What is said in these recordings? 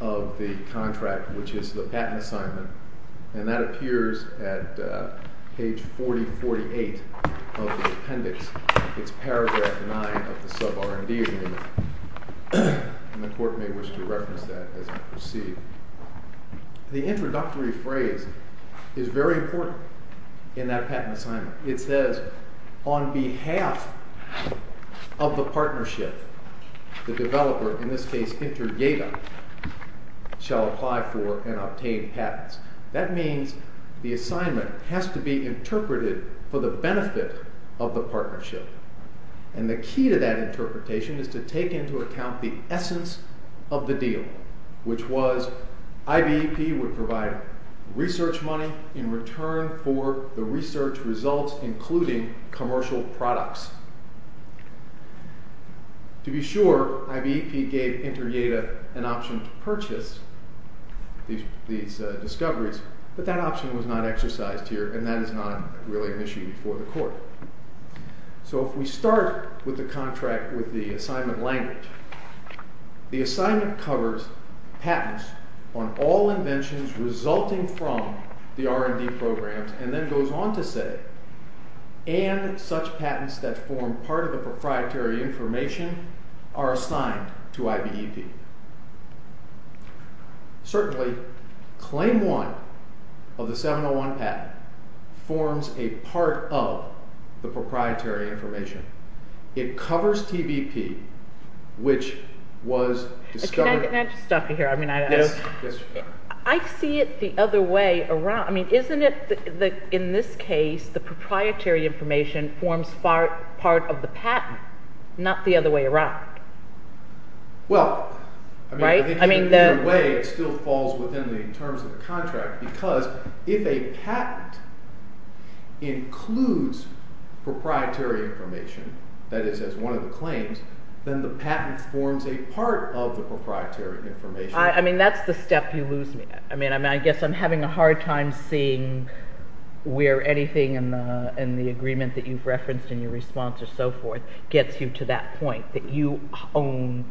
of the contract, which is the patent assignment, and that appears at page 4048 of the appendix. It's paragraph 9 of the sub-R&D agreement, and the court may wish to reference that as we proceed. The introductory phrase is very important in that patent assignment. It says, on behalf of the partnership, the developer, in this case InterGATA, shall apply for and obtain patents. That means the assignment has to be interpreted for the benefit of the partnership, and the key to that interpretation is to take into account the essence of the deal, which was IBEP would provide research money in return for the research results, including commercial products. To be sure, IBEP gave InterGATA an option to purchase these discoveries, but that option was not exercised here, and that is not really an issue for the court. So if we start with the contract with the assignment language, the assignment covers patents that form part of the proprietary information are assigned to IBEP. Certainly, Claim 1 of the 701 patent forms a part of the proprietary information. It covers TBP, which was discovered. Can I just stop you here? I mean, I don't. Yes. Yes, ma'am. I see it the other way around. I mean, isn't it that in this case, the proprietary information forms part of the patent, not the other way around? Well, I mean, I think in a way, it still falls within the terms of the contract, because if a patent includes proprietary information, that is, as one of the claims, then the patent forms a part of the proprietary information. I mean, that's the step you lose me. I mean, I guess I'm having a hard time seeing where anything in the agreement that you've referenced in your response or so forth gets you to that point, that you own,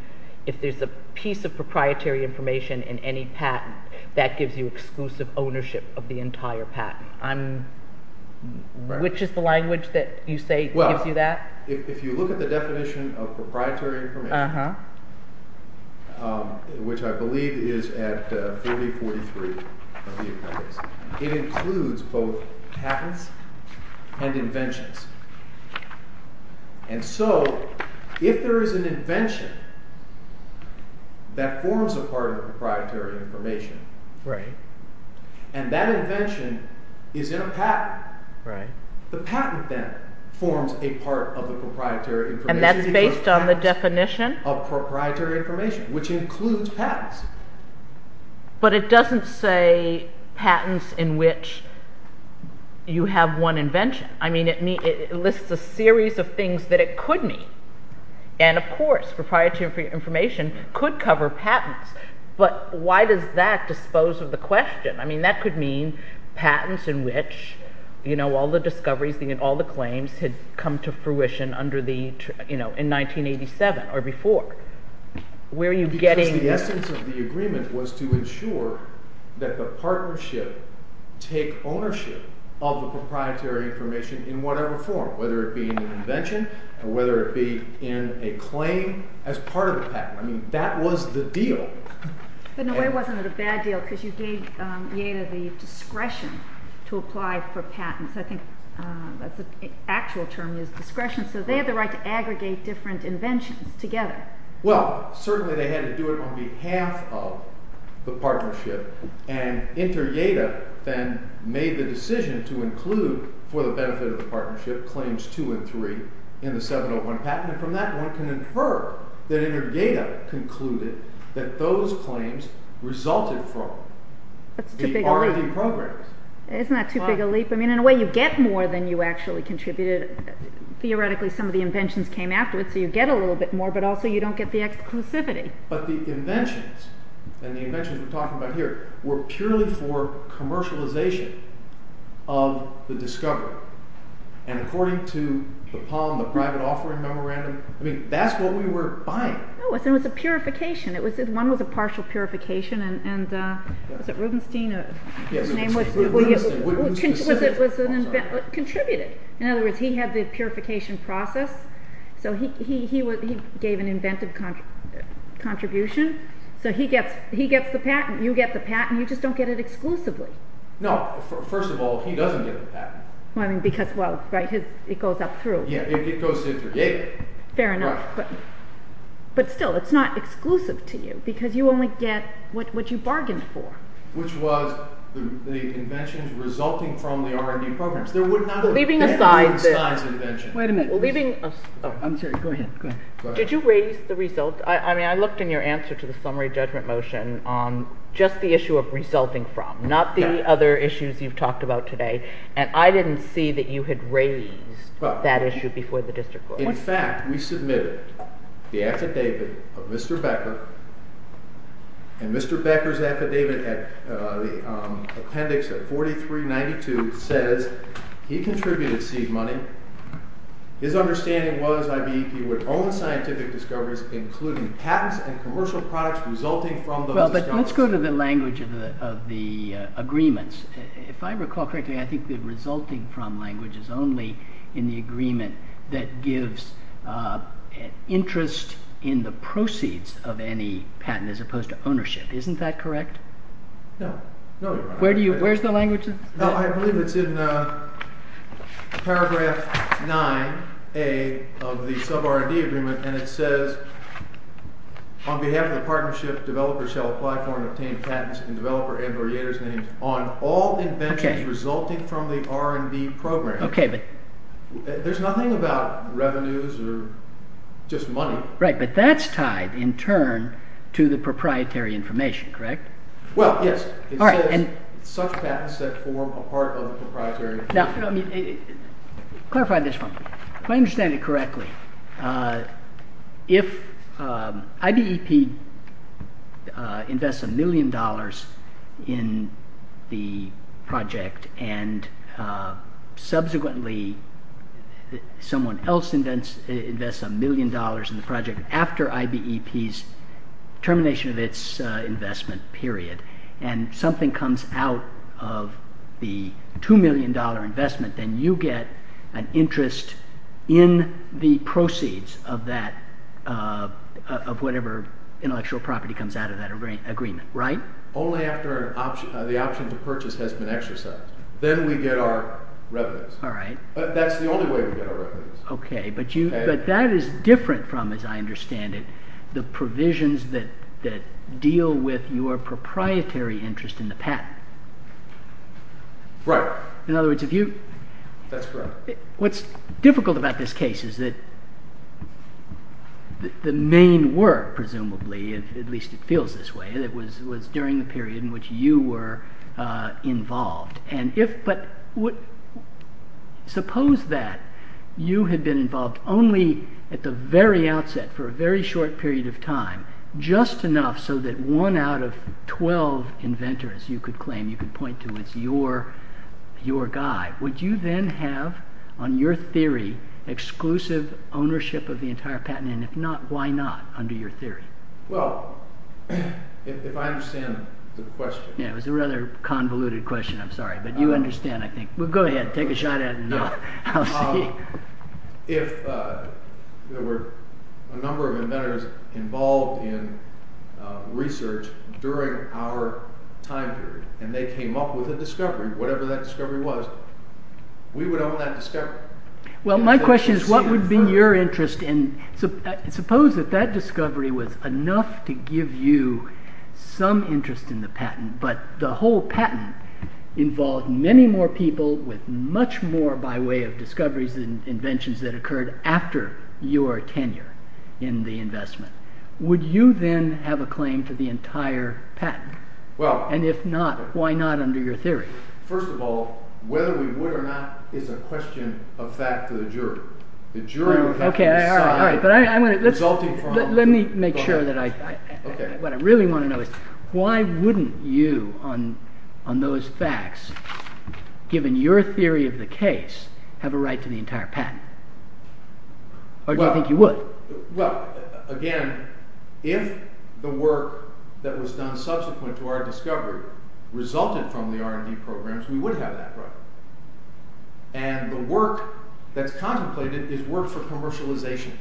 if there's a piece of proprietary information in any patent, that gives you exclusive ownership of the entire patent. I'm, which is the language that you say gives you that? If you look at the definition of proprietary information, which I believe is at 4043 of the appendix, it includes both patents and inventions. And so, if there is an invention that forms a part of the proprietary information, and that invention is in a patent, the patent then forms a part of the proprietary information. And that's based on the definition? Of proprietary information, which includes patents. But it doesn't say patents in which you have one invention. I mean, it lists a series of things that it could mean. And of course, proprietary information could cover patents. But why does that dispose of the question? I mean, that could mean patents in which, you know, all the discoveries, all the claims had come to fruition under the, you know, in 1987 or before. Where are you getting? Because the essence of the agreement was to ensure that the partnership take ownership of the proprietary information in whatever form, whether it be in an invention or whether it be in a claim as part of the patent. I mean, that was the deal. But in a way, it wasn't a bad deal because you gave Yeda the discretion to apply for patents. I think that's the actual term is discretion. So, they have the right to aggregate different inventions together. Well, certainly, they had to do it on behalf of the partnership. And inter-Yeda then made the decision to include for the benefit of the partnership claims two and three in the 701 patent. And from that, one can infer that inter-Yeda concluded that those claims resulted from the R&D programs. Isn't that too big a leap? I mean, in a way, you get more than you actually contributed. Theoretically, some of the inventions came afterwards, so you get a little bit more, but also you don't get the exclusivity. But the inventions, and the inventions we're talking about here, were purely for commercialization of the discovery. And according to the Palm, the private offering memorandum, I mean, that's what we were buying. No, it was a purification. One was a partial purification, and was it Rubenstein? Yes, it was Rubenstein. What was his name, I'm sorry? Contributed. In other words, he had the purification process. So he gave an inventive contribution. So he gets the patent. You get the patent. You just don't get it exclusively. No, first of all, he doesn't get the patent. Well, I mean, because, well, right, it goes up through. Yeah, it goes to inter-Yeda. Fair enough, but still, it's not exclusive to you, because you only get what you bargained for. Which was the inventions resulting from the R&D programs. There would not have been a Rubenstein's invention. Wait a minute, I'm sorry, go ahead, go ahead. Did you raise the result, I mean, I looked in your answer to the summary judgment motion on just the issue of resulting from, not the other issues you've talked about today, and I didn't see that you had raised that issue before the district court. In fact, we submitted the affidavit of Mr. Becker, and Mr. Becker's affidavit at the appendix of 4392 says he contributed seed money. His understanding was IBEP would own scientific discoveries, including patents and commercial products resulting from those discoveries. Well, but let's go to the language of the agreements. If I recall correctly, I think the resulting from language is only in the agreement that gives interest in the proceeds of any patent as opposed to ownership. Isn't that correct? No, no, Your Honor. Where do you, where's the language? No, I believe it's in paragraph 9A of the sub-R&D agreement, and it says, on behalf of the partnership, developers shall apply for and obtain patents in developer Edward Yator's name on all inventions resulting from the R&D program. Okay, but. There's nothing about revenues or just money. Right, but that's tied in turn to the proprietary information, correct? Well, yes. It says such patents that form a part of the proprietary. Now, I mean, clarify this for me. If I understand it correctly, if IBEP invests a million dollars in the project and subsequently someone else invests a million dollars in the project after IBEP's termination of its investment period. And something comes out of the $2 million investment, then you get an interest in the proceeds of whatever intellectual property comes out of that agreement, right? Only after the option to purchase has been exercised. Then we get our revenues. All right. But that's the only way we get our revenues. Okay, but that is different from, as I understand it, the provisions that deal with your proprietary interest in the patent. Right. In other words, if you. That's correct. What's difficult about this case is that the main work, presumably, at least it feels this way, that was during the period in which you were involved. And if, but suppose that you had been involved only at the very outset, for a very short period of time, just enough so that one out of 12 inventors, you could claim, you could point to as your guy, would you then have on your theory exclusive ownership of the entire patent? And if not, why not under your theory? Well, if I understand the question. Yeah, it was a rather convoluted question, I'm sorry. But you understand, I think. Well, go ahead, take a shot at it and I'll see. If there were a number of inventors involved in research during our time period, and they came up with a discovery, whatever that discovery was, we would own that discovery. Well, my question is, what would be your interest in, suppose that that discovery was enough to give you some interest in the patent, but the whole patent involved many more people with much more by way of discoveries and inventions that occurred after your tenure in the investment. Would you then have a claim to the entire patent? Well. And if not, why not under your theory? First of all, whether we would or not is a question of fact to the juror. The jury would have to decide resulting from the patent. Let me make sure that I, what I really want to know is why wouldn't you, on those facts, given your theory of the case, have a right to the entire patent? Or do you think you would? Well, again, if the work that was done subsequent to our discovery resulted from the R&D programs, we would have that right. And the work that's contemplated is work for commercialization,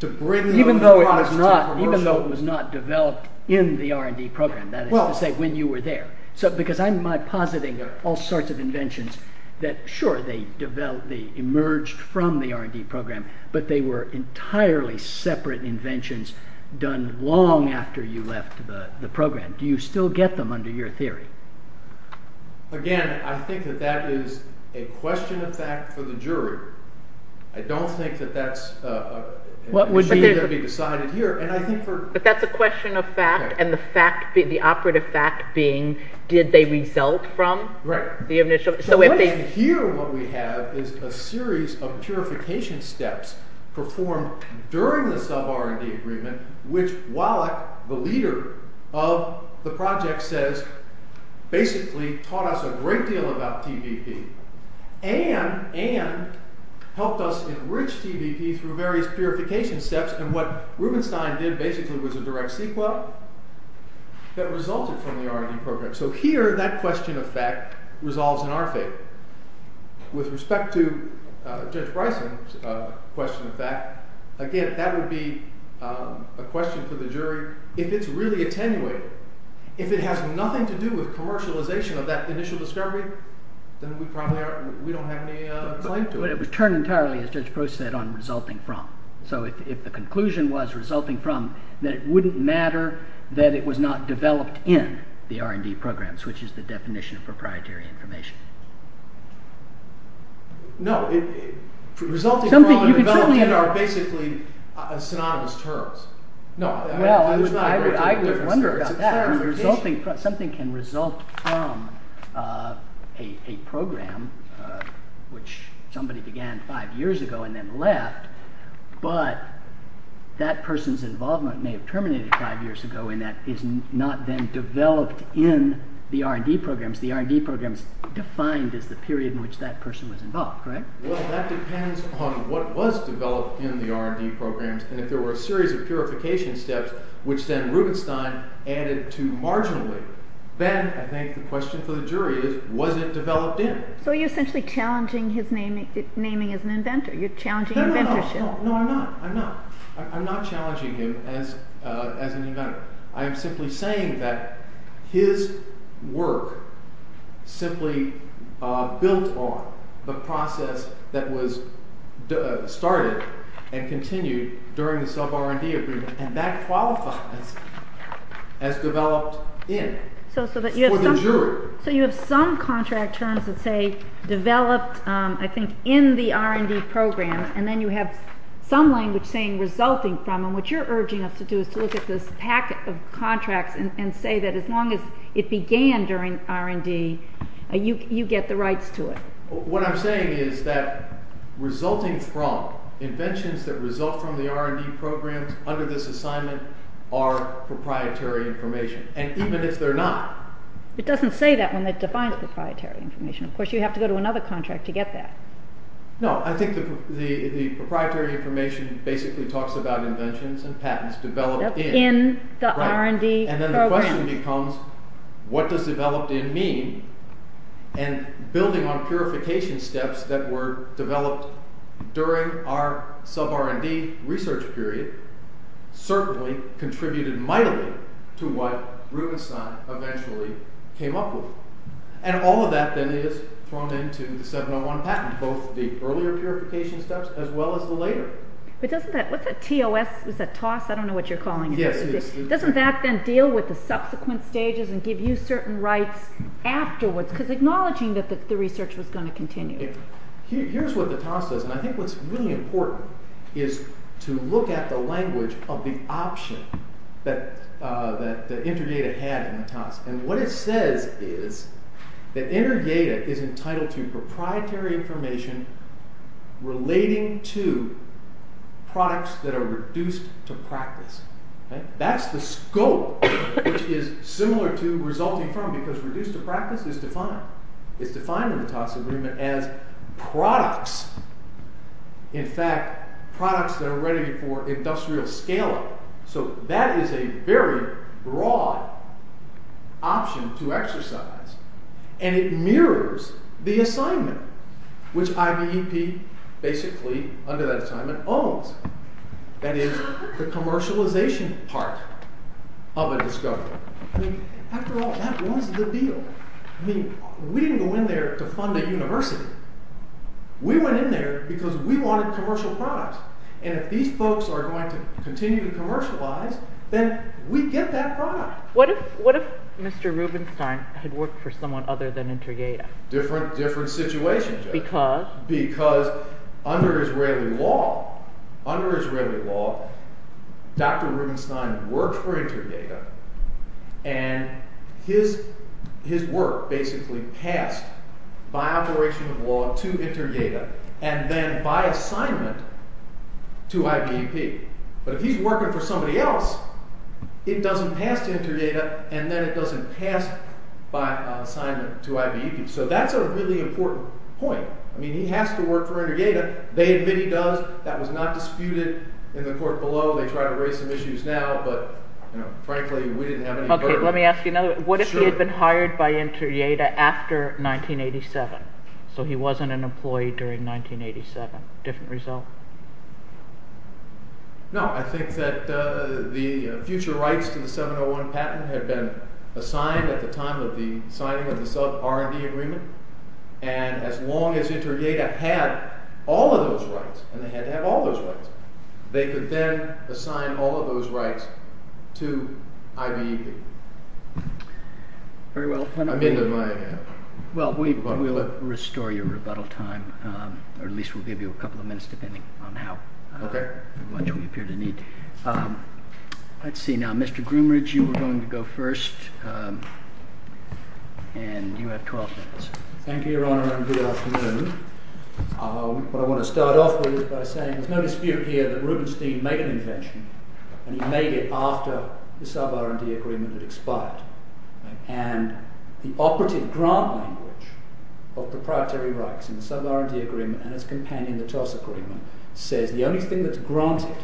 to bring those products to commercial. Even though it was not developed in the R&D program, that is to say when you were there. So, because I'm, my positing are all sorts of inventions that sure they developed, they emerged from the R&D program, but they were entirely separate inventions done long after you left the program. Do you still get them under your theory? Again, I think that that is a question of fact for the jury. I don't think that that's a issue that would be decided here. But that's a question of fact, and the fact, the operative fact being did they result from the initial, so if they. Here what we have is a series of purification steps performed during the sub-R&D agreement, which Wallach, the leader of the project says basically taught us a great deal about TVP, and helped us enrich TVP through various purification steps, and what Rubenstein did basically was a direct sequel that resulted from the R&D program. So here that question of fact resolves in our favor. With respect to Judge Bryson's question of fact, again, that would be a question for the jury. If it's really attenuated, if it has nothing to do with commercialization of that initial discovery, then we probably aren't, we don't have any claim to it. But it was turned entirely, as Judge Bruce said, on resulting from, so if the conclusion was resulting from, then it wouldn't matter that it was not developed in the R&D programs, which is the definition of proprietary information. No, resulting from and developing are basically synonymous terms. No, there's not a great deal of difference there. I would wonder about that, because something can result from a program, which somebody began five years ago and then left, but that person's involvement may have terminated five years ago, and that is not then developed in the R&D programs. The R&D programs defined as the period in which that person was involved, correct? Well, that depends on what was developed in the R&D programs, and if there were a series of purification steps, which then Rubenstein added to marginally, then I think the question for the jury is, was it developed in? So you're essentially challenging his naming as an inventor. You're challenging inventorship. No, no, no, no, no, I'm not, I'm not, I'm not challenging him as an inventor. I'm simply saying that his work simply built on the process that was started and continued during the sub-R&D agreement, and that qualifies as developed in for the jury. So you have some contract terms that say developed, I think, in the R&D programs, and then you have some language saying resulting from, and what you're urging us to do is to look at this pack of contracts and say that as long as it began during R&D, you get the rights to it. What I'm saying is that resulting from, inventions that result from the R&D programs under this assignment are proprietary information, and even if they're not. It doesn't say that when it defines proprietary information. Of course, you have to go to another contract to get that. No, I think the proprietary information basically talks about inventions and patents developed in. In the R&D program. And then the question becomes, what does developed in mean? And building on purification steps that were developed during our sub-R&D research period, certainly contributed mightily to what Rubenstein eventually came up with. And all of that then is thrown into the 701 patent, both the earlier purification steps, as well as the later. But doesn't that, what's that TOS, is that TOSS? I don't know what you're calling it. Yes, it is. Doesn't that then deal with the subsequent stages and give you certain rights afterwards? Because acknowledging that the research was going to continue. Here's what the TOSS says, and I think what's really important is to look at the language of the option that InterData had in the TOSS. And what it says is that InterData is entitled to proprietary information relating to products that are reduced to practice. Okay? That's the scope, which is similar to resulting from, because reduced to practice is defined. It's defined in the TOSS agreement as products. In fact, products that are ready for industrial scale-up. So that is a very broad option to exercise. And it mirrors the assignment, which IBEP basically, under that assignment, owns. That is, the commercialization part of a discovery. I mean, after all, that was the deal. I mean, we didn't go in there to fund a university. We went in there because we wanted commercial products. And if these folks are going to continue to commercialize, then we get that product. What if Mr. Rubenstein had worked for someone other than InterData? Different situation. Because? Because under Israeli law, Dr. Rubenstein worked for InterData, and his work basically passed by operation of law to InterData, and then by assignment to IBEP. But if he's working for somebody else, it doesn't pass to InterData, and then it doesn't pass by assignment to IBEP. So that's a really important point. I mean, he has to work for InterData. They admit he does. That was not disputed in the court below. They try to raise some issues now, but, you know, frankly, we didn't have any burden. Okay. Let me ask you another one. What if he had been hired by InterData after 1987? So he wasn't an employee during 1987. Different result? No. I think that the future rights to the 701 patent had been assigned at the time of the signing of the sub-R&D agreement, and as long as InterData had all of those rights, and they had to have all those rights, they could then assign all of those rights to IBEP. Very well. I'm into my... Well, we will restore your rebuttal time, or at least we'll give you a couple of minutes, depending on how much we appear to need. Let's see. Now, Mr. Groomridge, you were going to go first, and you have 12 minutes. Thank you, Your Honor, and good afternoon. What I want to start off with is by saying there's no dispute here that Rubenstein made an invention, and he made it after the sub-R&D agreement had expired, and the operative grant language of proprietary rights in the sub-R&D agreement and its companion, the TOS, according to him, says the only thing that's granted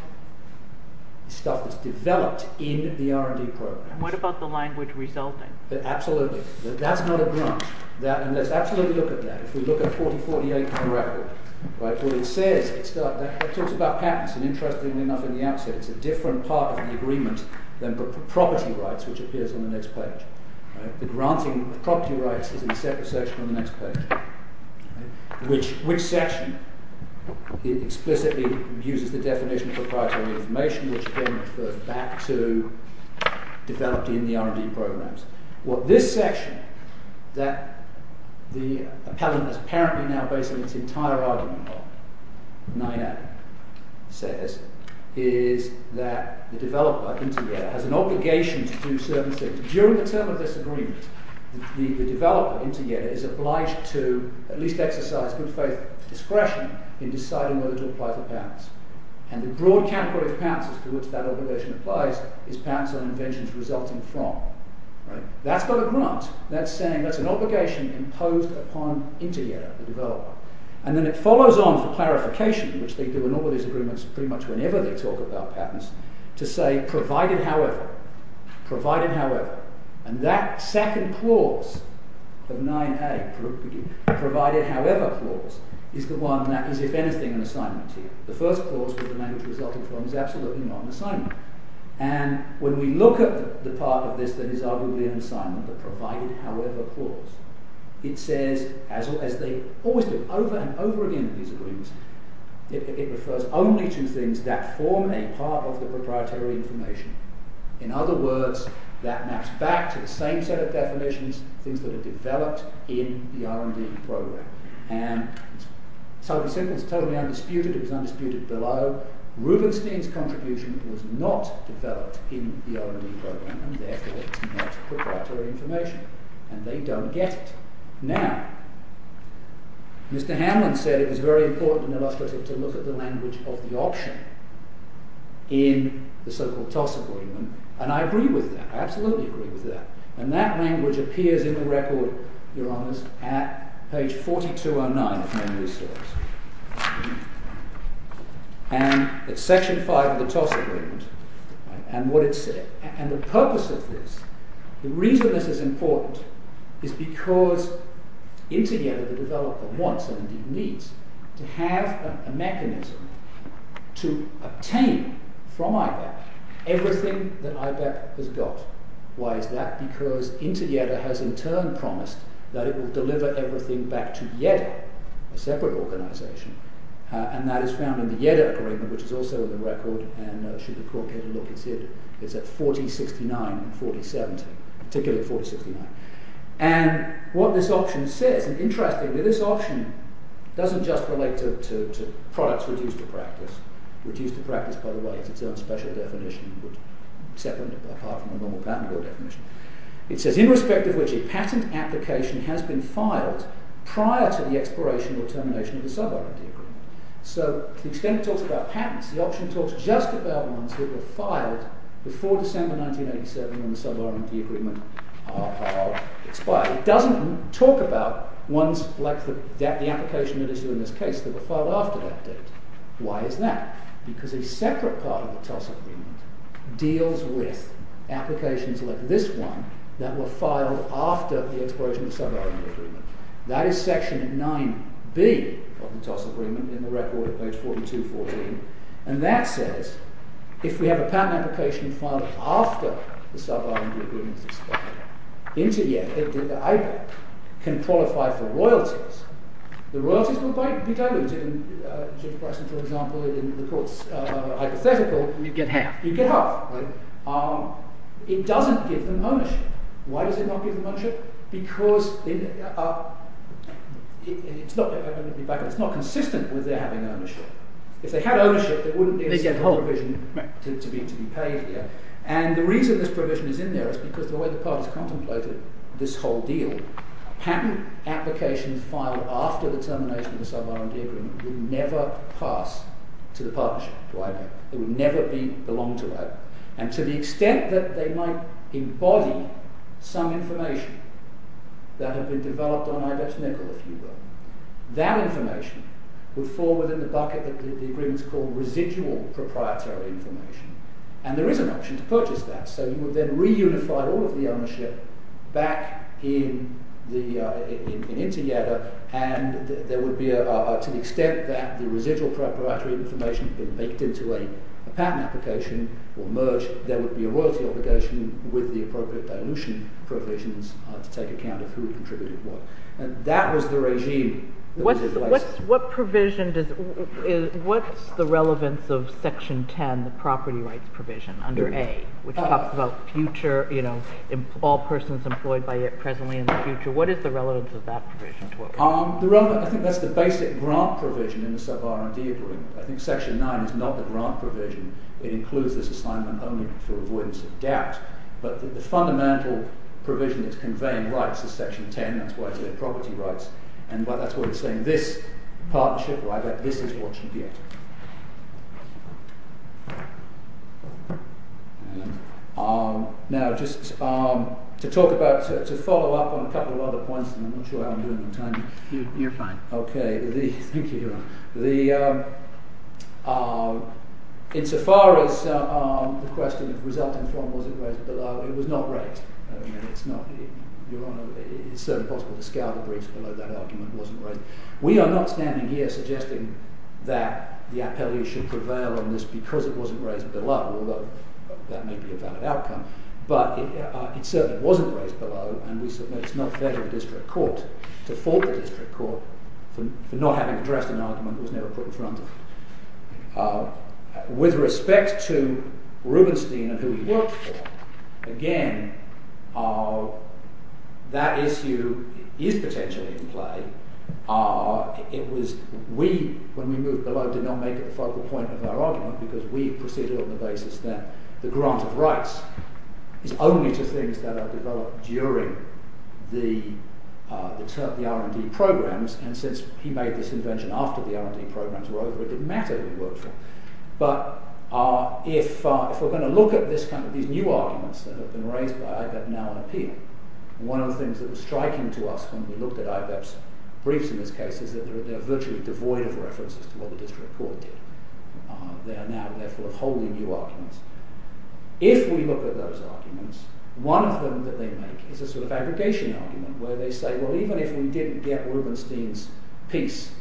is stuff that's developed in the R&D program. And what about the language resulting? Absolutely. That's not a grant. That, and let's absolutely look at that. If we look at 4048 for the record, right, what it says, it talks about patents, and interestingly enough, in the outset, it's a different part of the agreement than the property rights, which appears on the next page, right? The granting of property rights is in a separate section on the next page, right? Which section explicitly uses the definition of proprietary information, which again, refers back to developed in the R&D programs. What this section, that the appellant is apparently now basing its entire argument on, 9A, says, is that the developer has an obligation to do certain things. During the term of this agreement, the developer is obliged to at least exercise good faith discretion in deciding whether to apply for patents. And the broad category of patents as to which that obligation applies is patents and inventions resulting from, right? That's not a grant. That's saying that's an obligation imposed upon into the area, the developer. And then it follows on for clarification, which they do in all of these agreements pretty much whenever they talk about patents, to say, provided however, provided however, and that second clause of 9A, provided however clause, is the one that is, if anything, an assignment to you. The first clause with the language resulting from is absolutely not an assignment. And when we look at the part of this that is arguably an assignment, the provided however clause, it says, as they always do over and over again in these agreements, it refers only to things that form a part of the proprietary information. In other words, that maps back to the same set of definitions, things that are developed in the R&D program. And it's totally undisputed. It was undisputed below. Rubenstein's contribution was not developed in the R&D program, and therefore, it's not proprietary information. And they don't get it. Now, Mr. Hanlon said it was very important and illustrative to look at the language of the option in the so-called TOS agreement. And I agree with that. I absolutely agree with that. And that language appears in the record, your honors, at page 4209 of my news stories. And it's section 5 of the TOS agreement, and what it said. And the purpose of this, the reason this is important is because, in together, the developer wants and indeed needs to have a mechanism to obtain from IBEP everything that IBEP has got. Why is that? Because InterJEDA has in turn promised that it will deliver everything back to JEDA, a separate organization. And that is found in the JEDA agreement, which is also in the record. And should the court get a look, it's at 4069 and 4070, particularly 4069. And what this option says, and interestingly, this option doesn't just relate to products reduced to practice. Reduced to practice, by the way, is its own special definition, separate apart from the normal patent law definition. It says, in respect of which a patent application has been filed prior to the expiration or termination of the sub-R&D agreement. So to the extent it talks about patents, the option talks just about ones that were filed before December 1987 when the sub-R&D agreement expired. It doesn't talk about ones like the application that is in this case that were filed after that date. Why is that? Because a separate part of the TOS agreement deals with applications like this one that were filed after the expiration of the sub-R&D agreement. That is section 9B of the TOS agreement in the record at page 4214. And that says, if we have a patent application filed after the sub-R&D agreement is expired, JEDA can qualify for royalties. The royalties will be diluted. And, Judge Bryson, for example, in the court's hypothetical, you'd get half. You'd get half, right? It doesn't give them ownership. Why does it not give them ownership? Because it's not consistent with their having ownership. If they had ownership, there wouldn't be a provision to be paid here. And the reason this provision is in there is because the way the parties contemplated this whole deal, patent applications filed after the termination of the sub-R&D agreement would never pass to the partnership, to IDEP. It would never belong to IDEP. And to the extent that they might embody some information that had been developed on IDEP's nickel, if you will, that information would fall within the bucket that the agreement's called residual proprietary information. And there is an option to purchase that. So you would then reunify all of the ownership back in together, and there would be, to the extent that the residual proprietary information had been baked into a patent application or merged, there would be a royalty obligation with the appropriate dilution provisions to take account of who contributed what. And that was the regime. What provision does, what's the relevance of Section 10, the property rights provision under A, which talks about future, you know, all persons employed by it presently in the future. What is the relevance of that provision to what we're talking about? The relevance, I think that's the basic grant provision in the sub-R&D agreement. I think Section 9 is not the grant provision. It includes this assignment only for avoidance of doubt. But the fundamental provision that's conveying rights is Section 10. That's why it's the property rights. And that's why we're saying this partnership, this is what should be it. Now, just to talk about, to follow up on a couple of other points, and I'm not sure how I'm doing on time. You're fine. OK. Thank you. The, insofar as the question of resulting from was it raised below, it was not raised. It's not, Your Honor, it's certainly possible to scour the briefs below that argument wasn't raised. We are not standing here suggesting that the appellee should prevail on this because it wasn't raised below, although that may be a valid outcome. But it certainly wasn't raised below, and we submit it's not fair to the district court to fault the district court for not having addressed an argument that was never put in front of it. With respect to Rubenstein and who he worked for, again, that issue is potentially in play. It was we, when we moved below, did not make it the focal point of our argument is only to things that are developed during the R&D programs. And since he made this invention after the R&D programs were over, it didn't matter who he worked for. But if we're going to look at this kind of, these new arguments that have been raised by IBEP now in appeal, one of the things that was striking to us when we looked at IBEP's briefs in this case is that they're virtually devoid of references to what the district court did. They are now therefore wholly new arguments. If we look at those arguments, one of them that they make is a sort of aggregation argument where they say, well, even if we didn't get Rubenstein's piece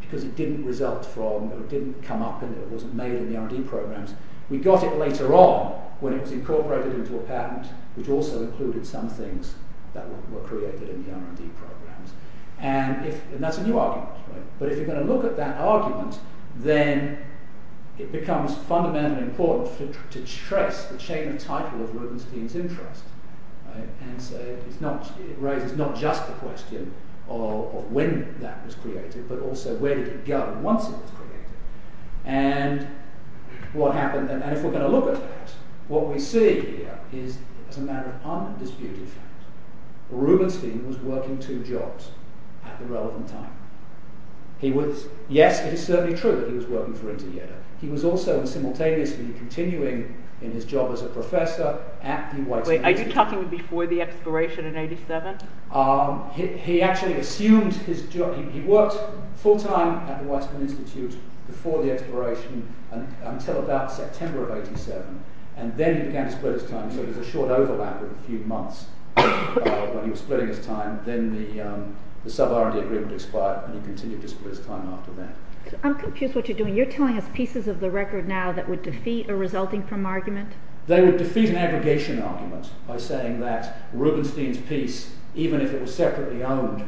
because it didn't result from, or it didn't come up, and it wasn't made in the R&D programs, we got it later on when it was incorporated into a patent, which also included some things that were created in the R&D programs. And if, and that's a new argument, right? But if you're going to look at that argument, then it becomes fundamentally important to trace the chain of title of Rubenstein's interest, right? And so it's not, it raises not just the question of when that was created, but also where did it go once it was created? And what happened, and if we're going to look at that, what we see here is as a matter of undisputed fact. Rubenstein was working two jobs at the relevant time. He was, yes, it is certainly true that he was working for Intieto. He was also simultaneously continuing in his job as a professor at the Weizmann Institute. Wait, are you talking before the expiration in 87? He actually assumed his job, he worked full-time at the Weizmann Institute before the expiration until about September of 87, and then he began to split his time, so it was a short overlap of a few months when he was splitting his time, then the sub-R&D agreement expired, and he continued to split his time after that. I'm confused what you're doing. You're telling us pieces of the record now that would defeat a resulting from argument? They would defeat an aggregation argument by saying that Rubenstein's piece, even if it was separately owned,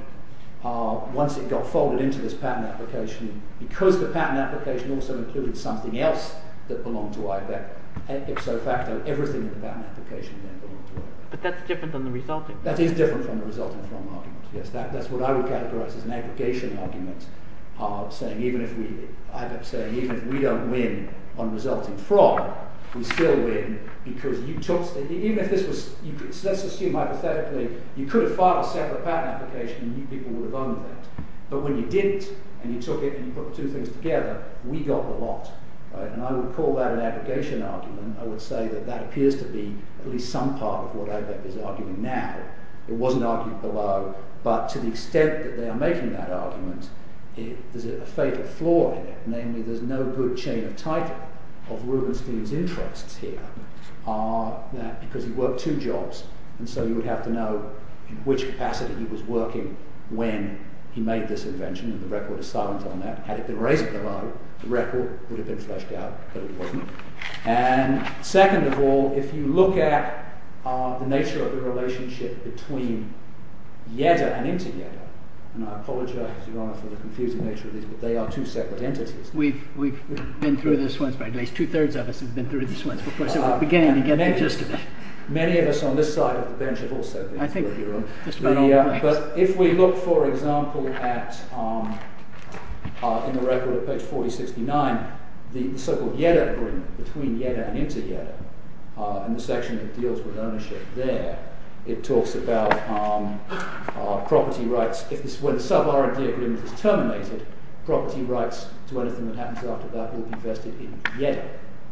once it got folded into this patent application, because the patent application also included something else that belonged to IVEC, ipso facto, everything in the patent application then belonged to IVEC. But that's different than the resulting? That is different from the resulting from argument, yes. That's what I would categorize as an aggregation argument, saying even if we don't win on resulting from, we still win, because you took, even if this was, let's assume hypothetically, you could have filed a separate patent application and you people would have owned that. But when you didn't, and you took it and you put two things together, we got the lot. And I would call that an aggregation argument. I would say that that appears to be at least some part of what IVEC is arguing now. It wasn't argued below, but to the extent that they are making that argument, there's a fatal flaw in it, namely there's no good chain of title of Rubenstein's interests here, because he worked two jobs, and so you would have to know in which capacity he was working when he made this invention, and the record is silent on that. Had it been raised below, the record would have been fleshed out, but it wasn't. And second of all, if you look at the nature of the relationship between JEDA and inter-JEDA, and I apologize, Your Honor, for the confusing nature of these, but they are two separate entities. We've been through this once, at least two-thirds of us have been through this once. Many of us on this side of the bench have also been through it, Your Honor. But if we look, for example, in the record at page 4069, the so-called JEDA agreement between JEDA and inter-JEDA, in the section that deals with ownership there, it talks about property rights. When the sub-R&D agreement is terminated, property rights to anything that happens after that will be vested in JEDA,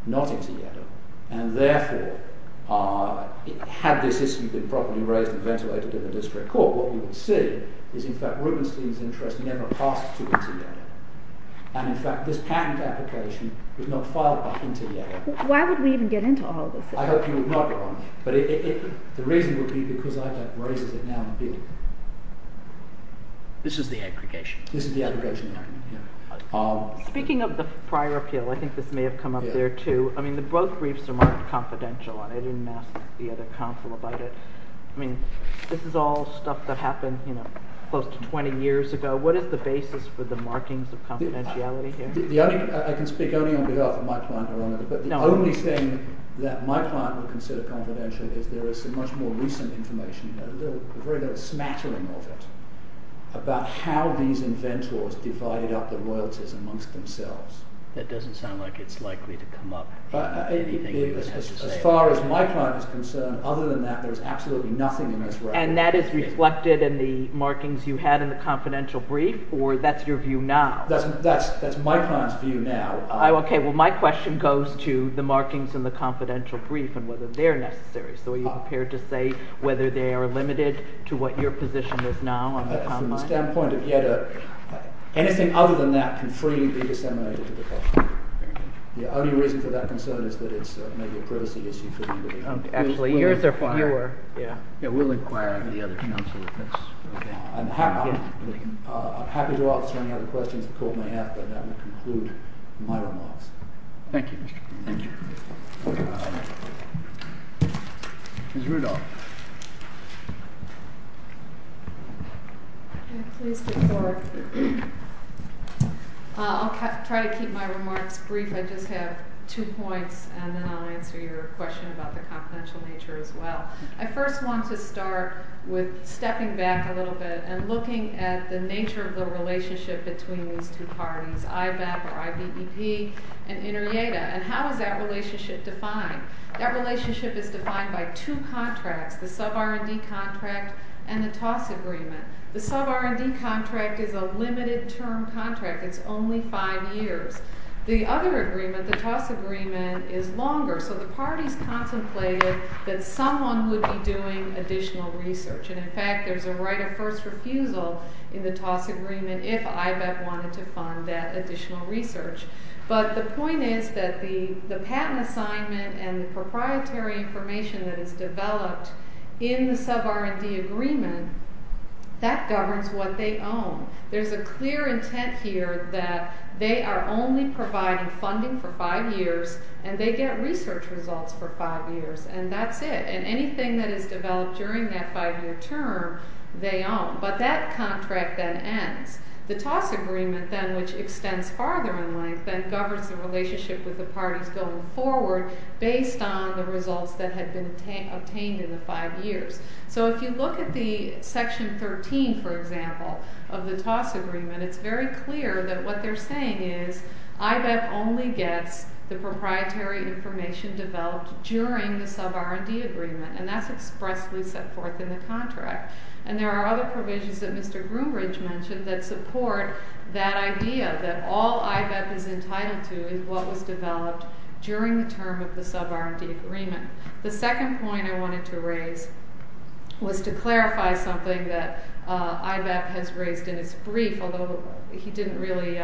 not inter-JEDA. And therefore, had this issue been properly raised and ventilated in the district court, what you would see is, in fact, Rubenstein's interest never passed to inter-JEDA. And in fact, this patent application was not filed by inter-JEDA. Why would we even get into all of this? I hope you would not, Your Honor. But the reason would be because ITAC raises it now and then. This is the aggregation? This is the aggregation. Speaking of the prior appeal, I think this may have come up there too. I mean, both briefs are marked confidential. I didn't ask the other counsel about it. I mean, this is all stuff that happened close to 20 years ago. What is the basis for the markings of confidentiality here? I can speak only on behalf of my client, Your Honor, but the only thing that my client would consider confidential is there is some much more recent information, a very little smattering of it, about how these inventors divided up the royalties amongst themselves. That doesn't sound like it's likely to come up. As far as my client is concerned, other than that, there is absolutely nothing in this record. And that is reflected in the markings you had in the confidential brief, or that's your view now? That's my client's view now. Okay, well, my question goes to the markings in the confidential brief and whether they're necessary. So are you prepared to say whether they are limited to what your position is now on the common mind? Anything other than that can freely be disseminated to the public. The only reason for that concern is that it's maybe a privacy issue. Actually, yours are fine. Yeah, we'll inquire into the other counsel. I'm happy to answer any other questions the court may have, but that will conclude my remarks. Thank you, Mr. Kruger. Thank you. Ms. Rudolph. Can I please be brief? I'll try to keep my remarks brief. I just have two points, and then I'll answer your question about the confidential nature as well. I first want to start with stepping back a little bit and looking at the nature of the relationship between these two parties, IBEP or I-B-E-P, and INTERYEDA, and how is that relationship defined? That relationship is defined by two contracts, the sub-R&D contract and the TOS agreement. The sub-R&D contract is a limited-term contract. It's only five years. The other agreement, the TOS agreement, is longer, so the parties contemplated that someone would be doing additional research, and, in fact, there's a right of first refusal in the TOS agreement if IBEP wanted to fund that additional research. But the point is that the patent assignment and the proprietary information that is developed in the sub-R&D agreement that governs what they own. There's a clear intent here that they are only providing funding for five years and they get research results for five years, and that's it. And anything that is developed during that five-year term, they own. But that contract then ends. The TOS agreement then, which extends farther in length, then governs the relationship with the parties going forward based on the results that had been obtained in the five years. So if you look at the Section 13, for example, of the TOS agreement, it's very clear that what they're saying is IBEP only gets the proprietary information developed during the sub-R&D agreement, and that's expressly set forth in the contract. And there are other provisions that Mr. Groombridge mentioned that support that idea that all IBEP is entitled to is what was developed during the term of the sub-R&D agreement. The second point I wanted to raise was to clarify something that IBEP has raised in its brief, although he didn't really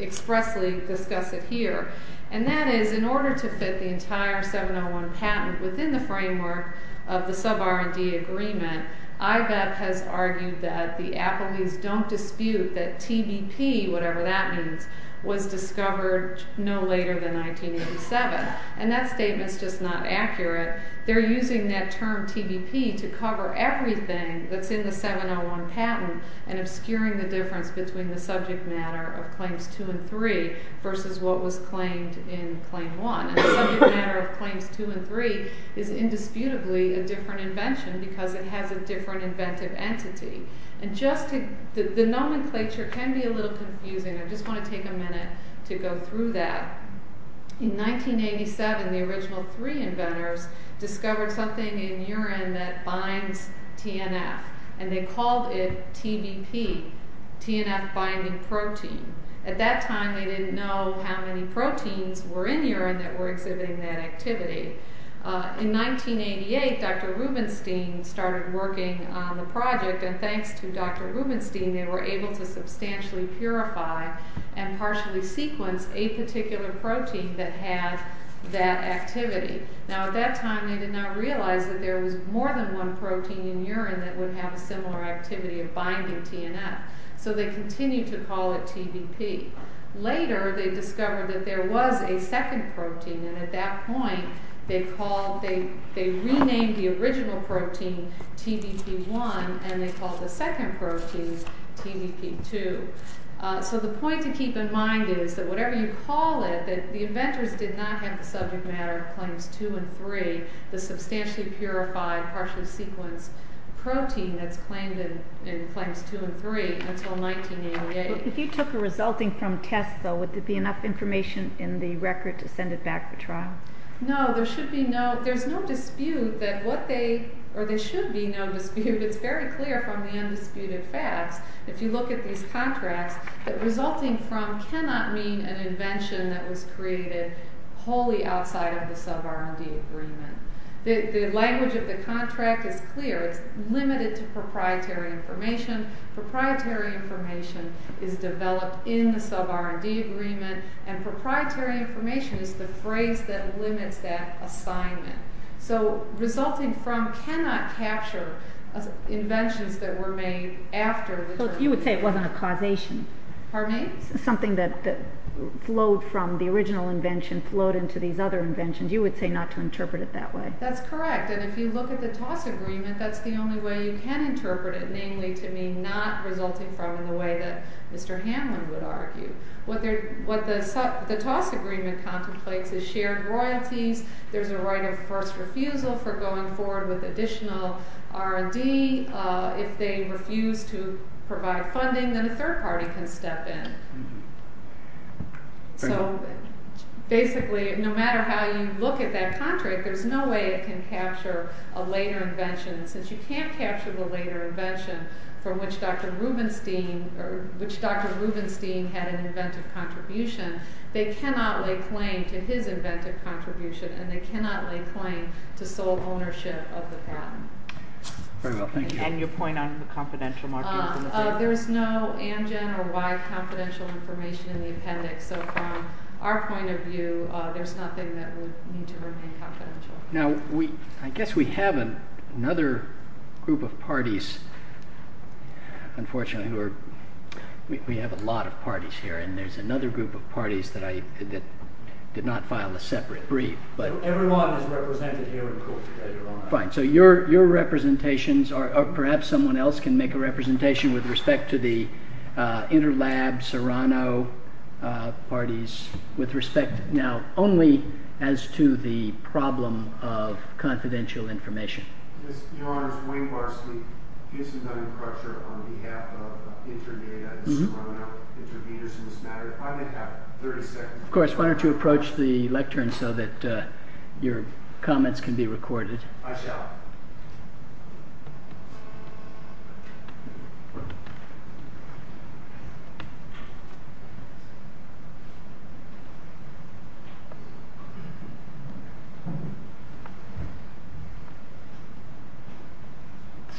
expressly discuss it here, and that is in order to fit the entire 701 patent within the framework of the sub-R&D agreement, IBEP has argued that the appellees don't dispute that TBP, whatever that means, was discovered no later than 1987. And that statement's just not accurate. They're using that term TBP to cover everything that's in the 701 patent and obscuring the difference between the subject matter of Claims 2 and 3 versus what was claimed in Claim 1. And the subject matter of Claims 2 and 3 is indisputably a different invention because it has a different inventive entity. And the nomenclature can be a little confusing. I just want to take a minute to go through that. In 1987, the original three inventors discovered something in urine that binds TNF, and they called it TBP, TNF-binding protein. At that time, they didn't know how many proteins were in urine that were exhibiting that activity. In 1988, Dr. Rubenstein started working on the project, and thanks to Dr. Rubenstein, they were able to substantially purify and partially sequence a particular protein that had that activity. Now, at that time, they did not realize that there was more than one protein in urine that would have a similar activity of binding TNF, so they continued to call it TBP. Later, they discovered that there was a second protein, and at that point they renamed the original protein TBP-1, and they called the second protein TBP-2. So the point to keep in mind is that whatever you call it, that the inventors did not have the subject matter of claims 2 and 3, the substantially purified, partially sequenced protein that's claimed in claims 2 and 3 until 1988. If you took a resulting from tests, though, would there be enough information in the record to send it back for trial? No, there should be no dispute that what they, or there should be no dispute. It's very clear from the undisputed facts. If you look at these contracts, the resulting from cannot mean an invention that was created wholly outside of the sub-R&D agreement. The language of the contract is clear. It's limited to proprietary information. Proprietary information is developed in the sub-R&D agreement, and proprietary information is the phrase that limits that assignment. So resulting from cannot capture inventions that were made after... You would say it wasn't a causation. Pardon me? Something that flowed from the original invention, flowed into these other inventions. You would say not to interpret it that way. That's correct, and if you look at the TOS agreement, that's the only way you can interpret it, namely to mean not resulting from in the way that Mr. Hanlon would argue. What the TOS agreement contemplates is shared royalties, there's a right of first refusal for going forward with additional R&D. If they refuse to provide funding, then a third party can step in. So basically, no matter how you look at that contract, there's no way it can capture a later invention. Since you can't capture the later invention from which Dr. Rubenstein had an inventive contribution, they cannot lay claim to his inventive contribution, and they cannot lay claim to sole ownership of the patent. Very well, thank you. And your point on the confidential marking from the paper? There's no ANGEN or Y confidential information in the appendix, so from our point of view, there's nothing that would need to remain confidential. Now, I guess we have another group of parties, unfortunately, we have a lot of parties here, and there's another group of parties that did not file a separate brief. Everyone is represented here in court today, Your Honor. Fine. So your representations, or perhaps someone else can make a representation with respect to the Interlab, Serrano parties, now only as to the problem of confidential information. Your Honor, Wayne Varsity gives me no pressure on behalf of Interdata and Serrano interviews in this matter. If I may have 30 seconds. Of course, why don't you approach the lectern so that your comments can be recorded. I shall.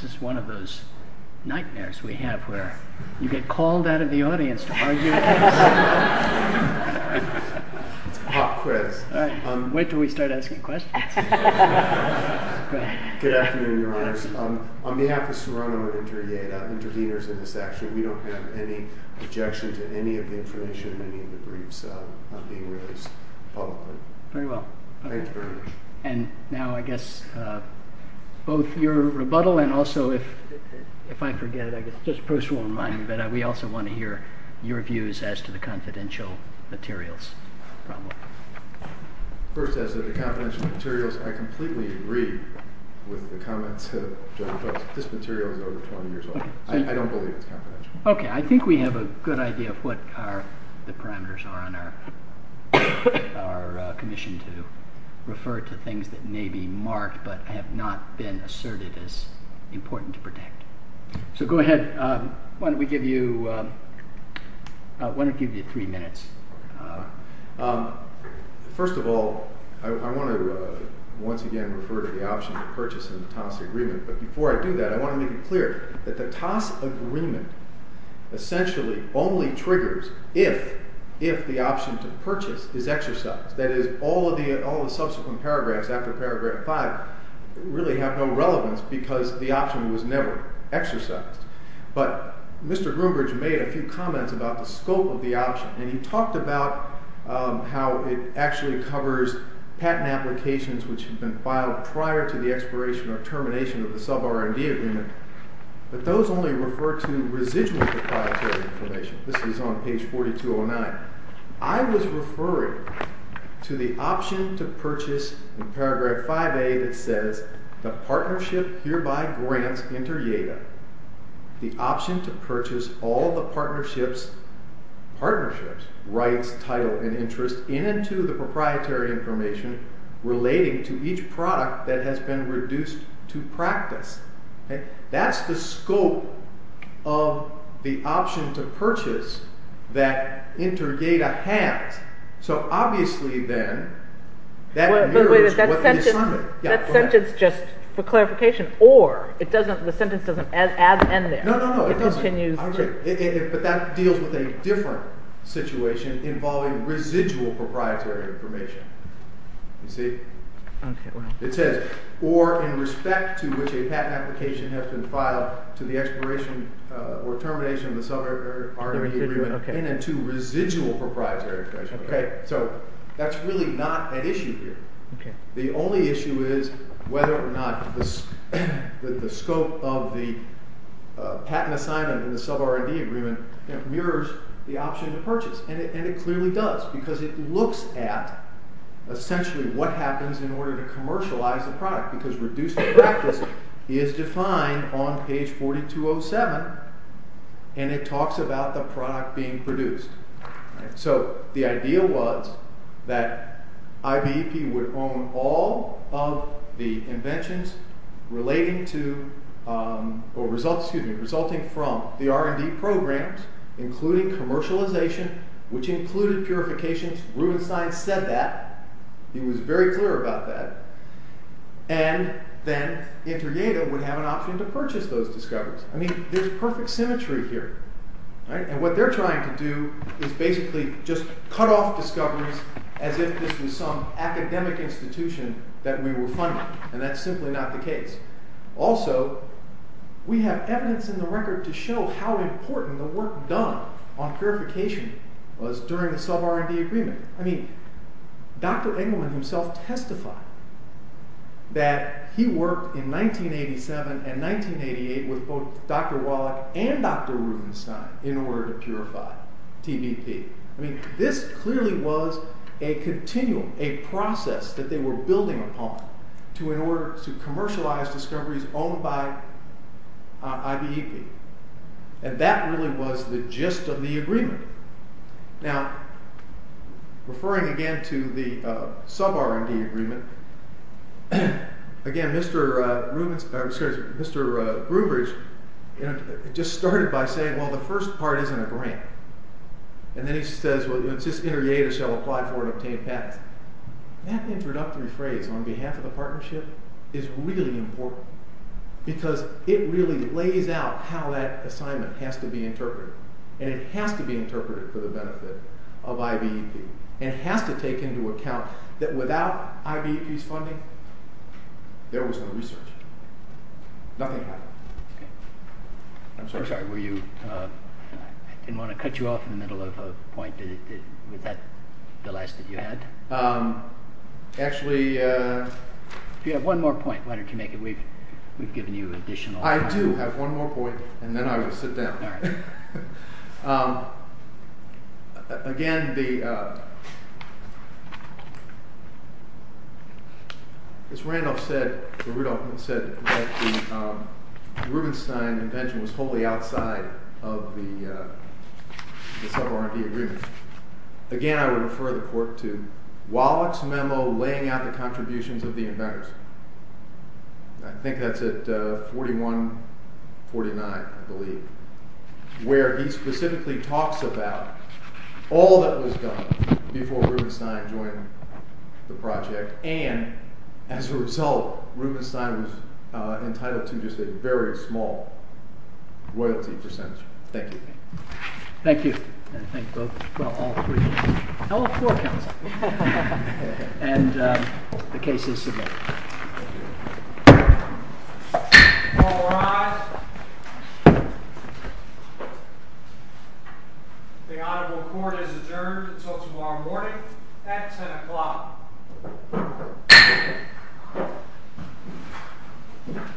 This is one of those nightmares we have where you get called out of the audience to argue a case. It's a hot quiz. Wait until we start asking questions. Good afternoon, Your Honors. On behalf of Serrano and Interdata, intervenors in this action, we don't have any objection to any of the information in any of the briefs being released publicly. Very well. Thank you very much. And now I guess both your rebuttal and also if I forget it, I guess just a personal reminder, but we also want to hear your views as to the confidential materials problem. First, as to the confidential materials, I completely agree with the comments of Judge Brooks. This material is over 20 years old. I don't believe it's confidential. Okay, I think we have a good idea of what the parameters are on our commission to refer to things that may be marked but have not been asserted as important to protect. So go ahead. Why don't we give you three minutes? First of all, I want to once again refer to the option to purchase in the TAS agreement, but before I do that, I want to make it clear that the TAS agreement essentially only triggers if the option to purchase is exercised. That is, all of the subsequent paragraphs after paragraph five really have no relevance because the option was never exercised. But Mr. Groombridge made a few comments about the scope of the option, and he talked about how it actually covers patent applications which had been filed prior to the expiration or termination of the sub-R&D agreement, but those only refer to residual proprietary information. This is on page 4209. I was referring to the option to purchase in paragraph 5A that says, the partnership hereby grants inter jata, the option to purchase all the partnerships, partnerships, rights, title, and interest in and to the proprietary information relating to each product that has been reduced to practice. That's the scope of the option to purchase that inter jata has. So obviously then, that mirrors what the assignment... That sentence, just for clarification, or the sentence doesn't add an end there. No, no, no, it doesn't. But that deals with a different situation involving residual proprietary information. You see? It says, or in respect to which a patent application has been filed to the expiration or termination of the sub-R&D agreement, in and to residual proprietary information. So that's really not an issue here. The only issue is whether or not the scope of the patent assignment in the sub-R&D agreement mirrors the option to purchase. And it clearly does, because it looks at essentially what happens in order to commercialize the product, because reduced to practice is defined on page 4207, and it talks about the product being produced. So the idea was that IBEP would own all of the inventions resulting from the R&D programs, including commercialization, which included purifications. Rubenstein said that. He was very clear about that. And then inter jata would have an option to purchase those discoveries. I mean, there's perfect symmetry here. And what they're trying to do is basically just cut off discoveries as if this was some academic institution that we were funding. And that's simply not the case. Also, we have evidence in the record to show how important the work done on purification was during the sub-R&D agreement. I mean, Dr. Engelman himself testified that he worked in 1987 and 1988 with both Dr. Wallach and Dr. Rubenstein in order to purify TBP. I mean, this clearly was a continuum, a process that they were building upon to commercialize discoveries owned by IBEP. And that really was the gist of the agreement. Now, referring again to the sub-R&D agreement, again, Mr. Brubridge just started by saying, well, the first part isn't a grant. And then he says, well, it's just inter jata shall apply for and obtain patents. That introductory phrase, on behalf of the partnership, is really important because it really lays out how that assignment has to be interpreted. And it has to be interpreted for the benefit of IBEP. And it has to take into account that without IBEP's funding, there was no research. Nothing happened. I'm sorry. I'm sorry. Were you... I didn't want to cut you off in the middle of a point. Was that the last that you had? Actually... If you have one more point, why don't you make it? We've given you additional time. I do have one more point, and then I will sit down. All right. Again, the... As Randolph said, or Rudolph said, that the Rubenstein invention was wholly outside of the sub-R&D agreement. Again, I would refer the court to Wallach's memo laying out the contributions of the inventors. I think that's at 41-49, I believe, where he specifically talks about all that was done before Rubenstein joined the project. And, as a result, Rubenstein was entitled to just a very small royalty percentage. Thank you. Thank you. And thank both... well, all three... all four counsel. And the case is submitted. Thank you. All rise. The audible court is adjourned until tomorrow morning at 10 o'clock.